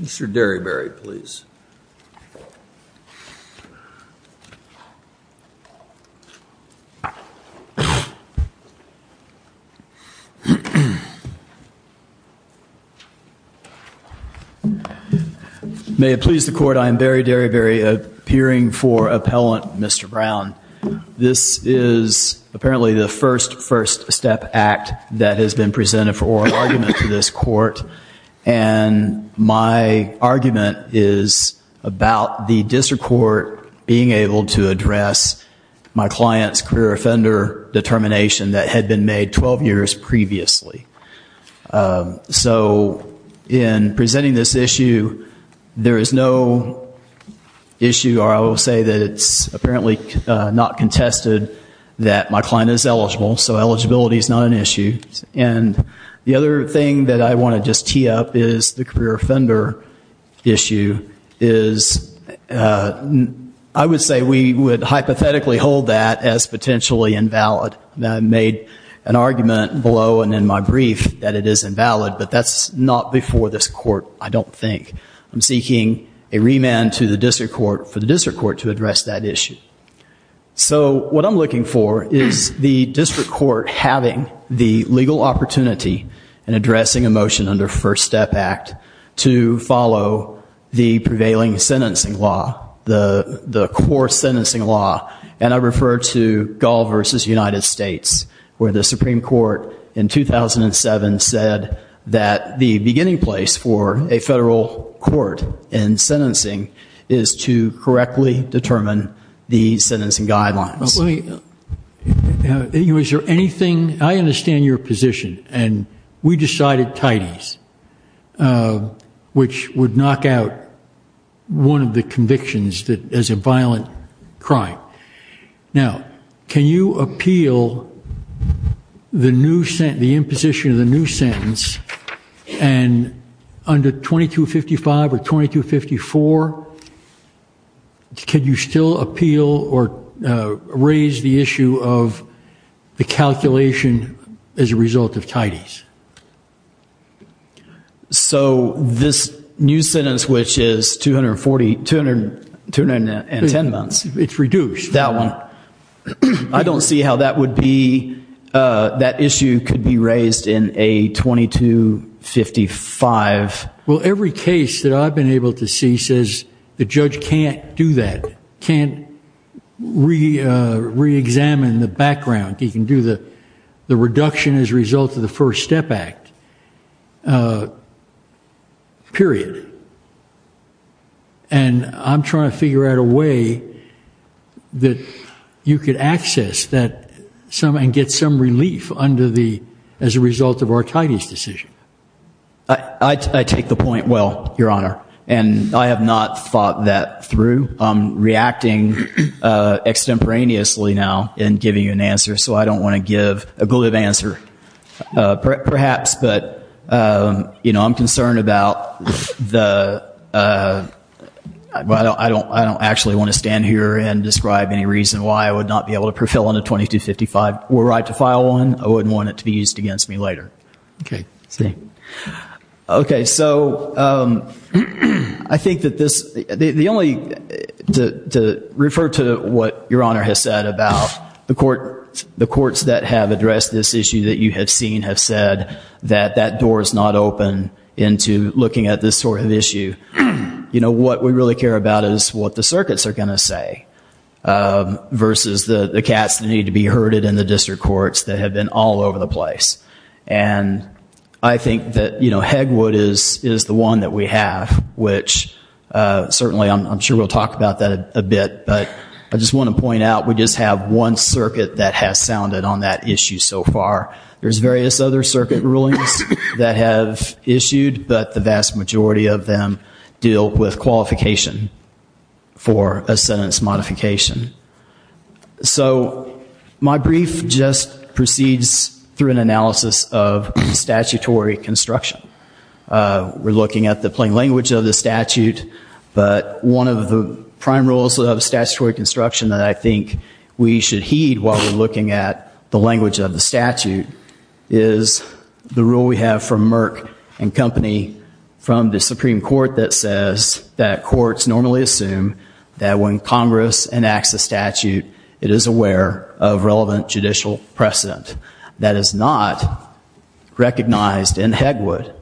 Mr. Derryberry please. May it please the court I am Barry Derryberry appearing for appellant Mr. Brown. This is apparently the first first step act that has been presented for me and my argument is about the district court being able to address my client's career offender determination that had been made 12 years previously. So in presenting this issue there is no issue or I will say that it's apparently not contested that my client is eligible so eligibility is not an issue. What I see up is the career offender issue is I would say we would hypothetically hold that as potentially invalid. I made an argument below and in my brief that it is invalid but that's not before this court I don't think. I'm seeking a remand to the district court for the district court to address that issue. So what I'm looking for is the district court having the step act to follow the prevailing sentencing law the the core sentencing law and I refer to Gall v. United States where the Supreme Court in 2007 said that the beginning place for a federal court in sentencing is to correctly determine the sentencing guidelines. Is there anything I understand your position and we decided Titus which would knock out one of the convictions that as a violent crime. Now can you appeal the new sent the imposition of the new sentence and under 2255 or 2254 could you still appeal or raise the calculation as a result of Titus? So this new sentence which is 240, 210 months it's reduced that one. I don't see how that would be that issue could be raised in a 2255. Well every case that I've been able to see says the judge can't do that can't re-examine the background he can do the the reduction as a result of the first step act period and I'm trying to figure out a way that you could access that some and get some relief under the as a result of our Titus decision. I take the point well your honor and I have not fought that through I'm reacting extemporaneously now in giving you an answer so I don't want to give a glib answer perhaps but you know I'm concerned about the I don't I don't I don't actually want to stand here and describe any reason why I would not be able to prevail on a 2255 were I to file one I wouldn't want it to be used against me later. Okay so I think that this the only to refer to what your honor has said about the court the courts that have addressed this issue that you have seen have said that that door is not open into looking at this sort of issue you know what we really care about is what the circuits are gonna say versus the the cats need to be herded in the district courts that have been all over the place and I think that you know Hegwood is is the one that we have which certainly I'm sure we'll talk about that a bit but I just want to point out we just have one circuit that has sounded on that issue so far there's various other circuit rulings that have issued but the vast majority of them deal with qualification for a sentence modification so my brief just proceeds through an analysis of statutory construction we're looking at the plain language of the statute but one of the prime roles of statutory construction that I think we should heed while we're looking at the language of the statute is the rule we have from Merck and company from the Supreme Court that says that courts normally assume that when Congress enacts a statute it is aware of that is not recognized in Hegwood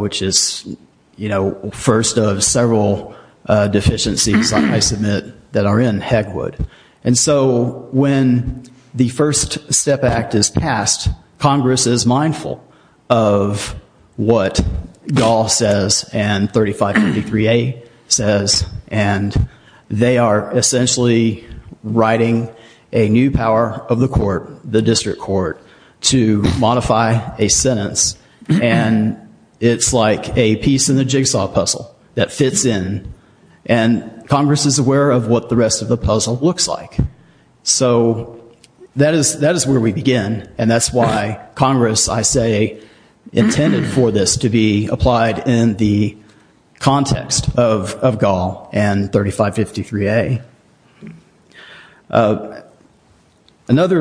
which is you know first of several deficiencies I submit that are in Hegwood and so when the first step act is passed Congress is mindful of what doll says and 3533 a says and they are essentially writing a new power of the court the district court to modify a sentence and it's like a piece in the jigsaw puzzle that fits in and Congress is aware of what the rest of the puzzle looks like so that is that is where we begin and that's why Congress I say intended for this to be applied in the another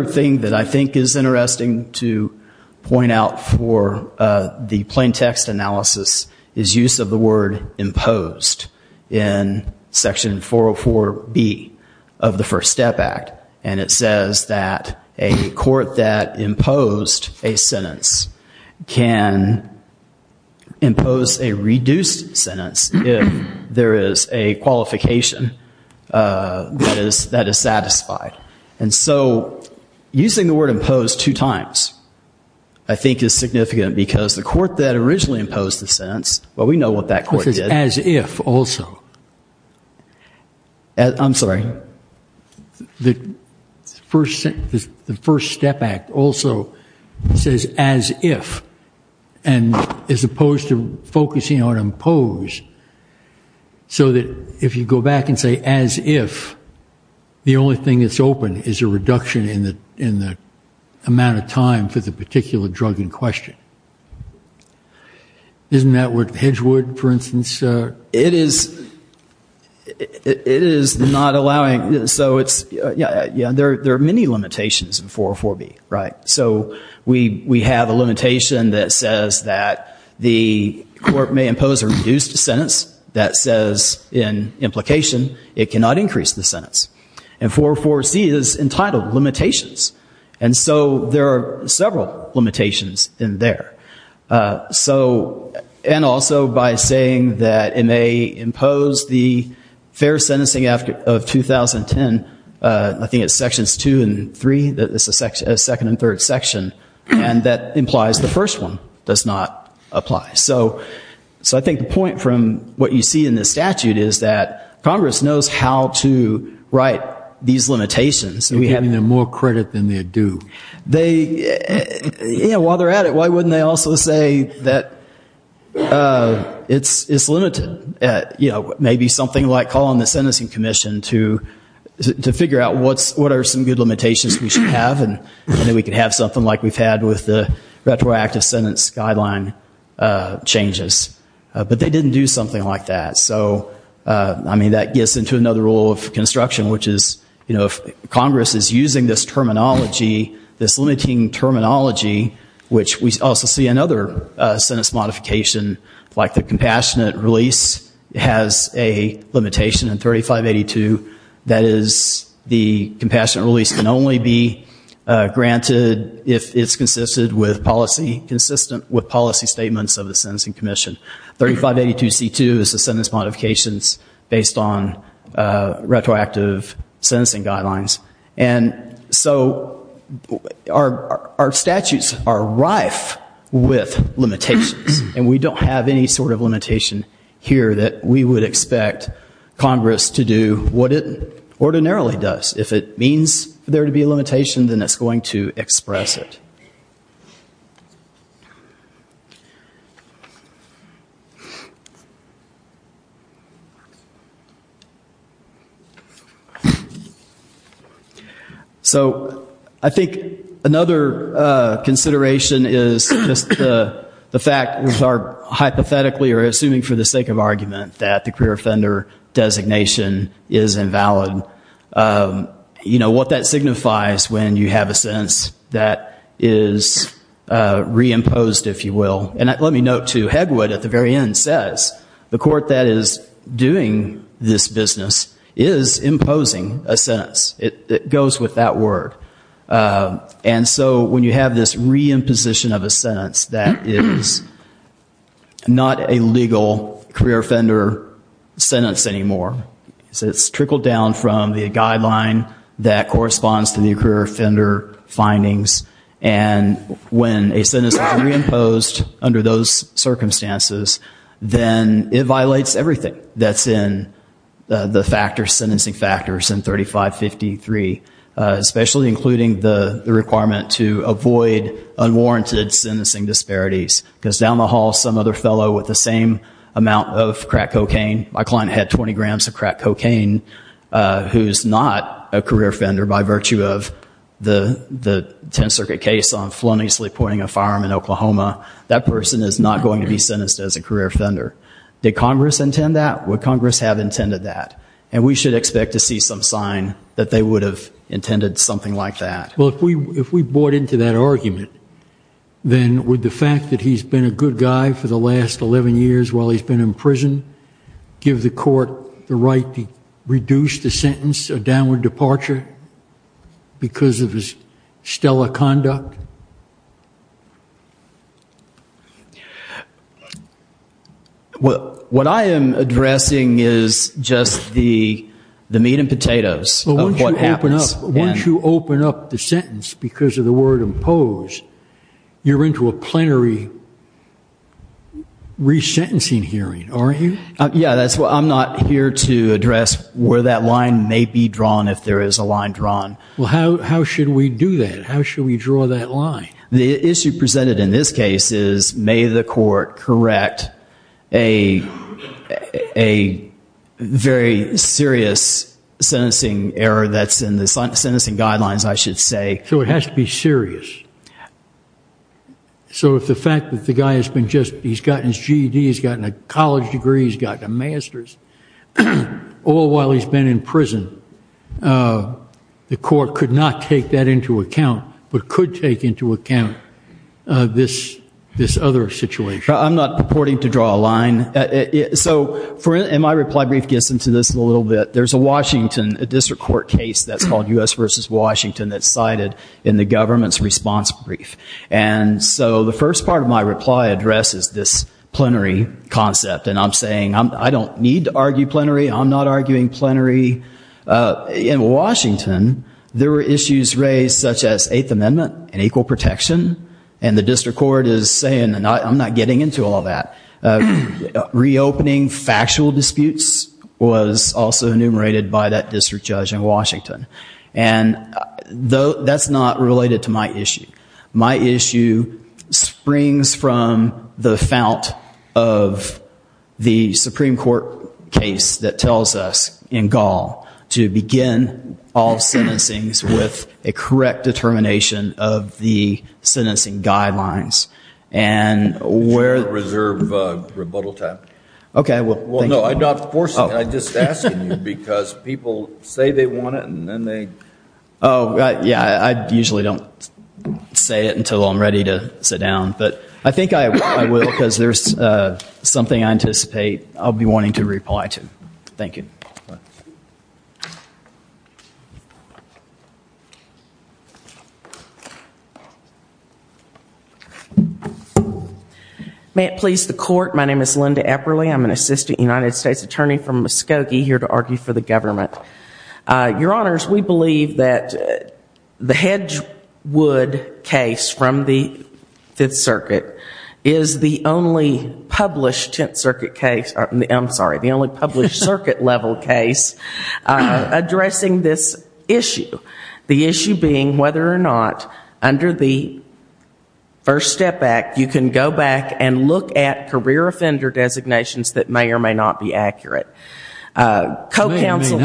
thing that I think is interesting to point out for the plain text analysis is use of the word imposed in section 404 be of the first step act and it says that a court that imposed a sentence can impose a reduced sentence if there is a qualification that is that is satisfied and so using the word imposed two times I think is significant because the court that originally imposed the sentence well we know what that course is as if also as I'm sorry the first sentence the first step act also says as if and as opposed to focusing on impose so that if you go back and say as if the only thing that's open is a reduction in the in the amount of time for the particular drug in question isn't that what Hedgewood for instance it is it is not allowing so it's yeah yeah there there are many limitations in 404 be right so we we have a limitation that says that the court may impose a reduced sentence that says in implication it cannot increase the sentence and 404 C is entitled limitations and so there are several limitations in there so and also by saying that it may impose the fair sentencing after of 2010 I think it's second and third section and that implies the first one does not apply so so I think the point from what you see in this statute is that Congress knows how to write these limitations and we having them more credit than they do they you know while they're at it why wouldn't they also say that it's it's limited at you know maybe something like calling the sentencing Commission to to what are some good limitations we should have and then we could have something like we've had with the retroactive sentence guideline changes but they didn't do something like that so I mean that gets into another rule of construction which is you know if Congress is using this terminology this limiting terminology which we also see another sentence modification like the compassionate release can only be granted if it's consisted with policy consistent with policy statements of the sentencing Commission 3582 c2 is the sentence modifications based on retroactive sentencing guidelines and so our our statutes are rife with limitations and we don't have any sort of limitation here that we would expect Congress to do what it ordinarily does if it means there to be a limitation then it's going to express it so I think another consideration is just the fact with our hypothetically or assuming for the sake of argument that the career offender designation is valid you know what that signifies when you have a sense that is reimposed if you will and let me know to head what at the very end says the court that is doing this business is imposing a sentence it goes with that word and so when you have this reimposition of a sentence that is not a legal career sentence anymore so it's trickled down from the guideline that corresponds to the career offender findings and when a sentence reimposed under those circumstances then it violates everything that's in the factor sentencing factors in 3553 especially including the requirement to avoid unwarranted sentencing disparities because down the hall some other fellow with the same amount of crack cocaine my client had 20 grams of crack cocaine who's not a career offender by virtue of the the 10th Circuit case on flown easily pointing a firearm in Oklahoma that person is not going to be sentenced as a career offender did Congress intend that what Congress have intended that and we should expect to see some sign that they would have intended something like that well if we if we bought into that argument then with the fact that he's been a good guy for the last 11 years while he's been in prison give the court the right to reduce the sentence a downward departure because of his stellar conduct well what I am addressing is just the the meat and potatoes so what happens once you open up the sentence because of the word impose you're into a plenary resentencing hearing are you yeah that's what I'm not here to address where that line may be drawn if there is a line drawn how should we do that how should we draw that line the issue presented in this case is may the court correct a a very serious sentencing error that's in the sentence and guidelines I should say so it has to be serious so if the fact that the guy has been just he's gotten his GD he's gotten a college degree he's got a master's all while he's been in prison the court could not take that into account but could take into account this this other situation I'm not purporting to draw a line so for in my reply brief gets into this a bit there's a Washington a district court case that's called u.s. versus Washington that's cited in the government's response brief and so the first part of my reply addresses this plenary concept and I'm saying I don't need to argue plenary I'm not arguing plenary in Washington there were issues raised such as eighth amendment and equal protection and the district court is saying and I'm not getting into all that reopening factual disputes was also enumerated by that district judge in Washington and though that's not related to my issue my issue springs from the fount of the Supreme Court case that tells us in Gaul to begin all sentencings with a correct determination of the sentencing guidelines and where the reserve rebuttal time okay well no I'm not forcing I just because people say they want it and then they oh yeah I usually don't say it until I'm ready to sit down but I think I will because there's something I anticipate I'll be wanting to reply to thank you you may it please the court my name is Linda Epperle I'm an assistant United States attorney from Muskogee here to argue for the government your honors we believe that the Hedgewood case from the Fifth Circuit is the only published Tenth addressing this issue the issue being whether or not under the first step back you can go back and look at career offender designations that may or may not be accurate co-counsel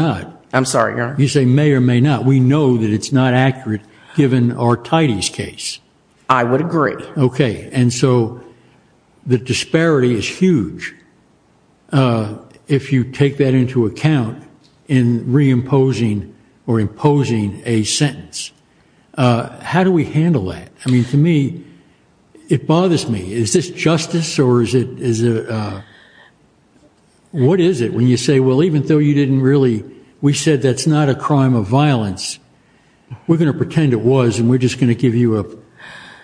I'm sorry you say may or may not we know that it's not accurate given our tighties case I would agree okay and so the disparity is or imposing a sentence how do we handle that I mean to me it bothers me is this justice or is it is it what is it when you say well even though you didn't really we said that's not a crime of violence we're gonna pretend it was and we're just gonna give you a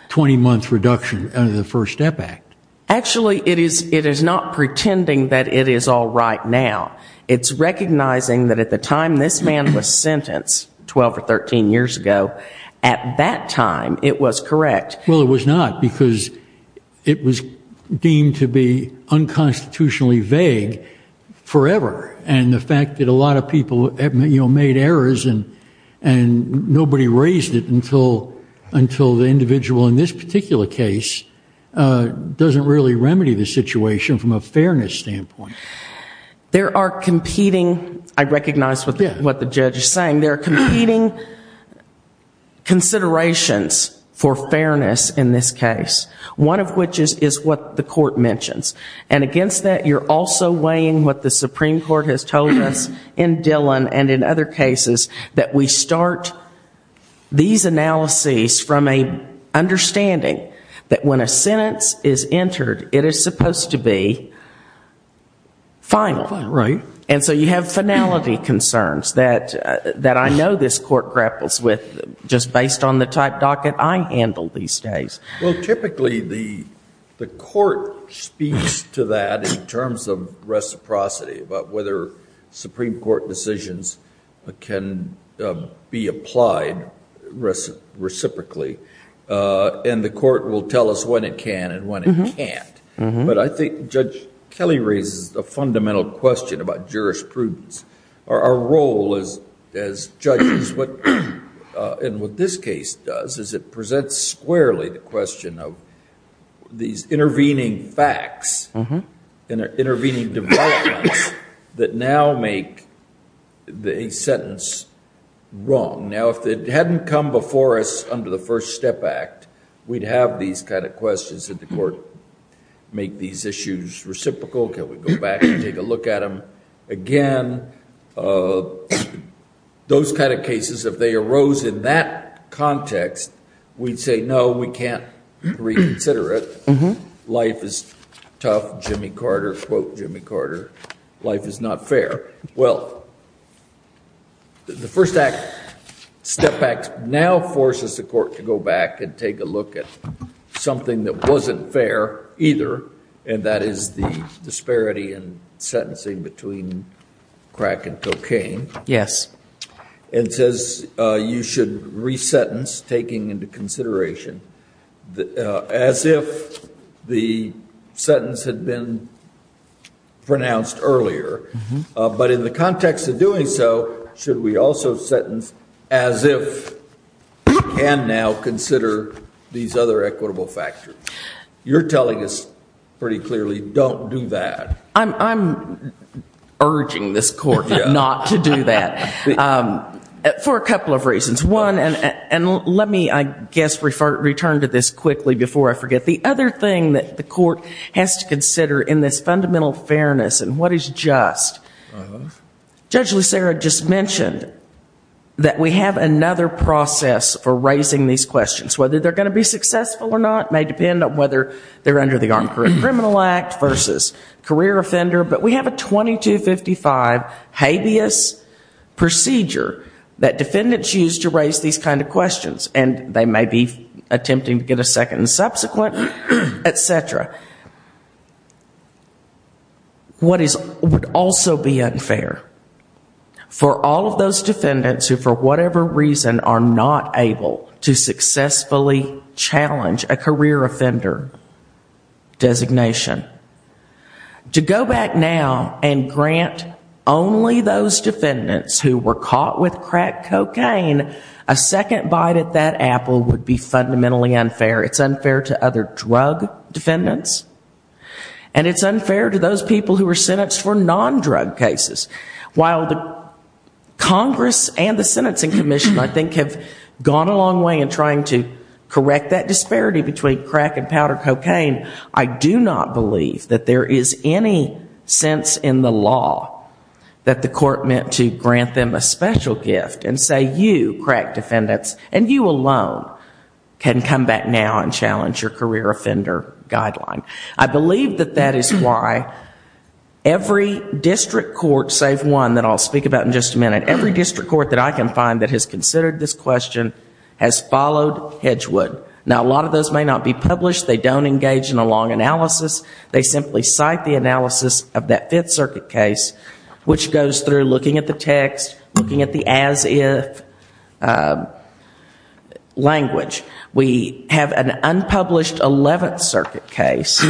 20 month reduction under the first step back actually it is it is not pretending that it is all right now it's recognizing that at the time this man was sentenced 12 or 13 years ago at that time it was correct well it was not because it was deemed to be unconstitutionally vague forever and the fact that a lot of people have made errors and and nobody raised it until until the individual in this particular case doesn't really recognize what the what the judge is saying they're competing considerations for fairness in this case one of which is is what the court mentions and against that you're also weighing what the Supreme Court has told us in Dillon and in other cases that we start these analyses from a understanding that when a sentence is entered it is supposed to be finally right and so you have finality concerns that that I know this court grapples with just based on the type docket I handle these days well typically the the court speaks to that in terms of reciprocity but whether Supreme Court decisions can be applied reciprocally and the court will tell us when it can and when it can't but I think judge Kelly raises the fundamental question about jurisprudence our role is as judges what in what this case does is it presents squarely the question of these intervening facts and intervening developments that now make the sentence wrong now if it hadn't come before us under the first step act we'd have these kind of questions that the court make these issues reciprocal can we go back and take a look at them again those kind of cases if they arose in that context we'd say no we can't reconsider it mm-hmm life is tough Jimmy Carter quote Jimmy Carter life is not fair well the first act step back now forces the court to go back and take a look at something that wasn't fair either and that is the disparity and sentencing between crack and cocaine yes and says you should resentence taking into consideration as if the sentence had been pronounced earlier but in the context of doing so should we also sentence as if and now consider these other equitable factors you're telling us pretty clearly don't do that I'm urging this court not to do that for a couple of reasons one and let me I guess refer return to this quickly before I forget the other thing that the court has to consider in this fundamental fairness and what is just judge Lucero just mentioned that we have another process for raising these questions whether they're going to be successful or not may depend on whether they're under the armed criminal act versus career offender but we have a 22 55 habeas procedure that defendants used to raise these kind of questions and they may be attempting to get a second subsequent etc what is would also be unfair for all of those defendants who for whatever reason are not able to successfully challenge a career offender designation to go back now and grant only those defendants who were caught with crack cocaine a second bite at that apple would be fundamentally unfair it's unfair to other drug defendants and it's unfair to those people who were sentenced for non-drug cases while the Congress and the Sentencing Commission I think have gone a long way in trying to correct that disparity between crack and powder cocaine I do not believe that there is any sense in the law that the court meant to grant them a special gift and say you crack defendants and you alone can come back now and challenge your career offender guideline I believe that that is why every district court save one that I'll speak about in just a minute every district court that I can find that has considered this question has followed Hedgewood now a lot of those may not be published they don't engage in a long analysis they simply cite the analysis of that Fifth Circuit case which goes through looking at the text looking at the as if language we have an unpublished Eleventh Circuit case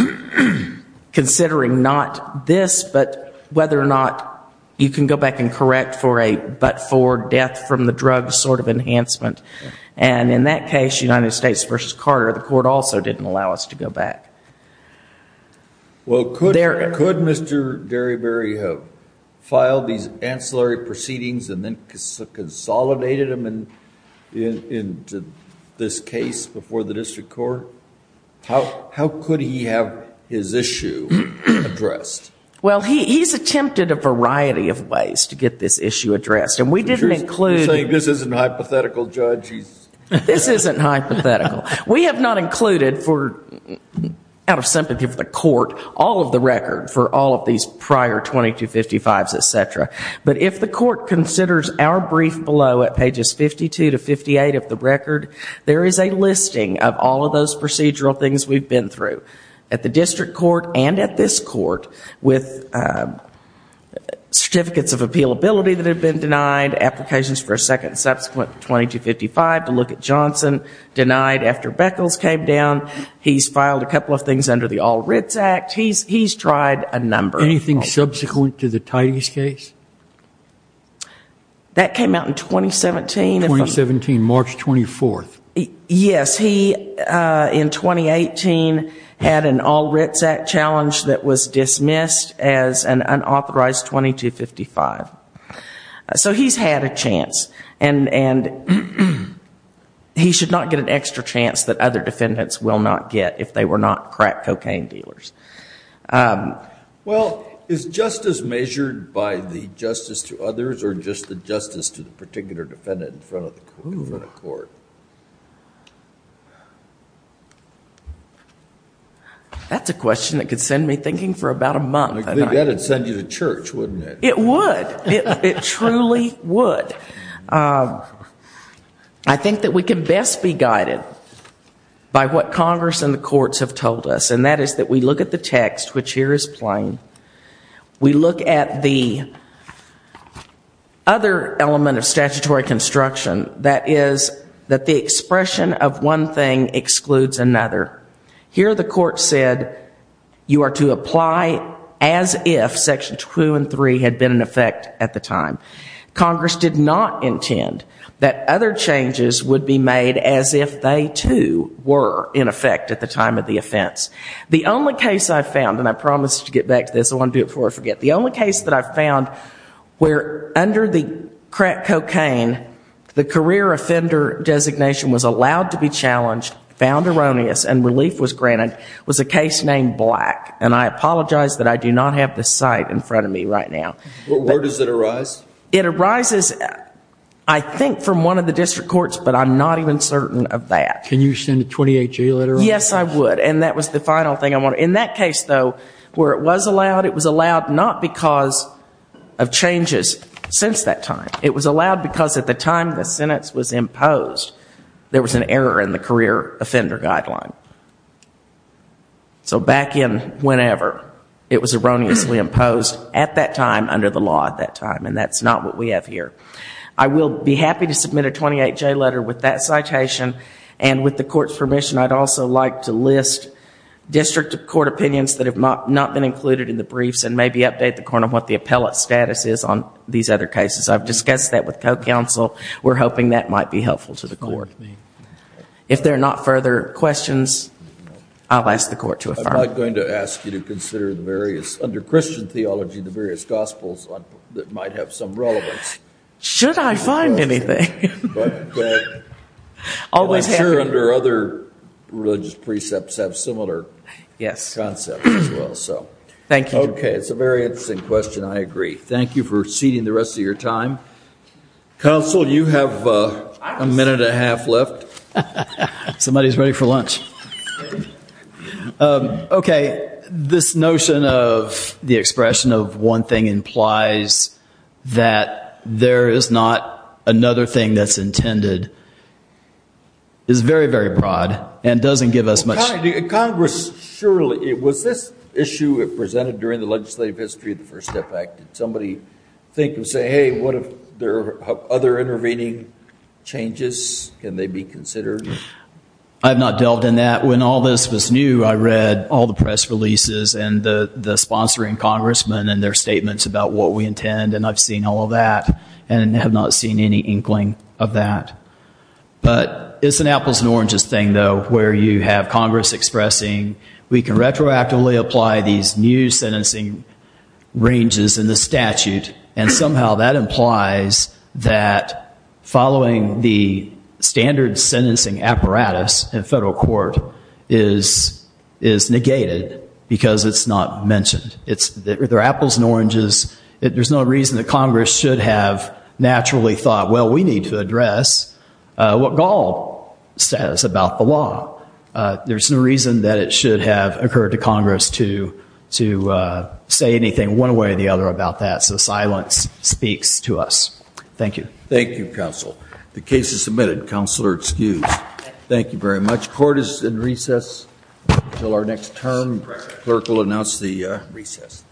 considering not this but whether or not you can go back and correct for a but for death from the drug sort of enhancement and in that case United there could Mr. Derryberry have filed these ancillary proceedings and then consolidated them and in this case before the district court how how could he have his issue addressed well he's attempted a variety of ways to get this issue addressed and we didn't include this is an hypothetical judge this isn't hypothetical we have not included for out of sympathy for the court all of the record for all of these prior 2255s etc but if the court considers our brief below at pages 52 to 58 of the record there is a listing of all of those procedural things we've been through at the district court and at this court with certificates of appeal ability that have been denied applications for a denied after Beckles came down he's filed a couple of things under the all Ritz Act he's he's tried a number anything subsequent to the tightest case that came out in 2017 2017 March 24th yes he in 2018 had an all Ritz Act challenge that was dismissed as an unauthorized 2255 so he's had a chance and and he should not get an extra chance that other defendants will not get if they were not crack cocaine dealers well is justice measured by the justice to others or just the justice to the particular defendant in front of the court that's a question that could send me thinking for about a month and I think that we can best be guided by what Congress and the courts have told us and that is that we look at the text which here is plain we look at the other element of statutory construction that is that the expression of one thing excludes another here the court said you are to apply as if section two and three had been in effect at the time Congress did not intend that other changes would be made as if they too were in effect at the time of the offense the only case I found and I promised to get back to this I want to do it before I forget the only case that I found where under the crack cocaine the career offender designation was allowed to be challenged found erroneous and relief was granted was a case named black and I apologize that I do not have this site in front of me right now where does it arise it arises I think from one of the district courts but I'm not even certain of that can you send a 28g letter yes I would and that was the final thing I want in that case though where it was allowed it was allowed not because of changes since that time it was allowed because at the time the sentence was imposed there was an error in the career offender guideline so back in whenever it was erroneously imposed at that time under the law at that time and that's not what we have here I will be happy to submit a 28 J letter with that citation and with the court's permission I'd also like to list district of court opinions that have not been included in the briefs and maybe update the corner what the appellate status is on these other cases I've discussed that with co-counsel we're hoping that might be helpful to court if they're not further questions I'll ask the court to a fire going to ask you to consider the various under Christian theology the various Gospels on that might have some relevance should I find anything always here under other religious precepts have similar yes concept well so thank you okay it's a very interesting question I agree thank you for seating the rest of your time so you have a minute a half left somebody's ready for lunch okay this notion of the expression of one thing implies that there is not another thing that's intended is very very broad and doesn't give us much Congress surely it was this issue it presented during the legislative history of the first step somebody say hey what if there are other intervening changes can they be considered I have not dealt in that when all this was new I read all the press releases and the sponsoring congressman and their statements about what we intend and I've seen all of that and have not seen any inkling of that but it's an apples and oranges thing though where you have Congress expressing we can retroactively apply these new sentencing ranges in the statute and somehow that implies that following the standard sentencing apparatus in federal court is is negated because it's not mentioned it's there apples and oranges there's no reason that Congress should have naturally thought well we need to address what Gaul says about the law there's no reason that it should have occurred to Congress to to say anything one way or the other about that so silence speaks to us thank you thank you counsel the case is submitted counselor excuse thank you very much court is in recess until our next term clerk will announce the recess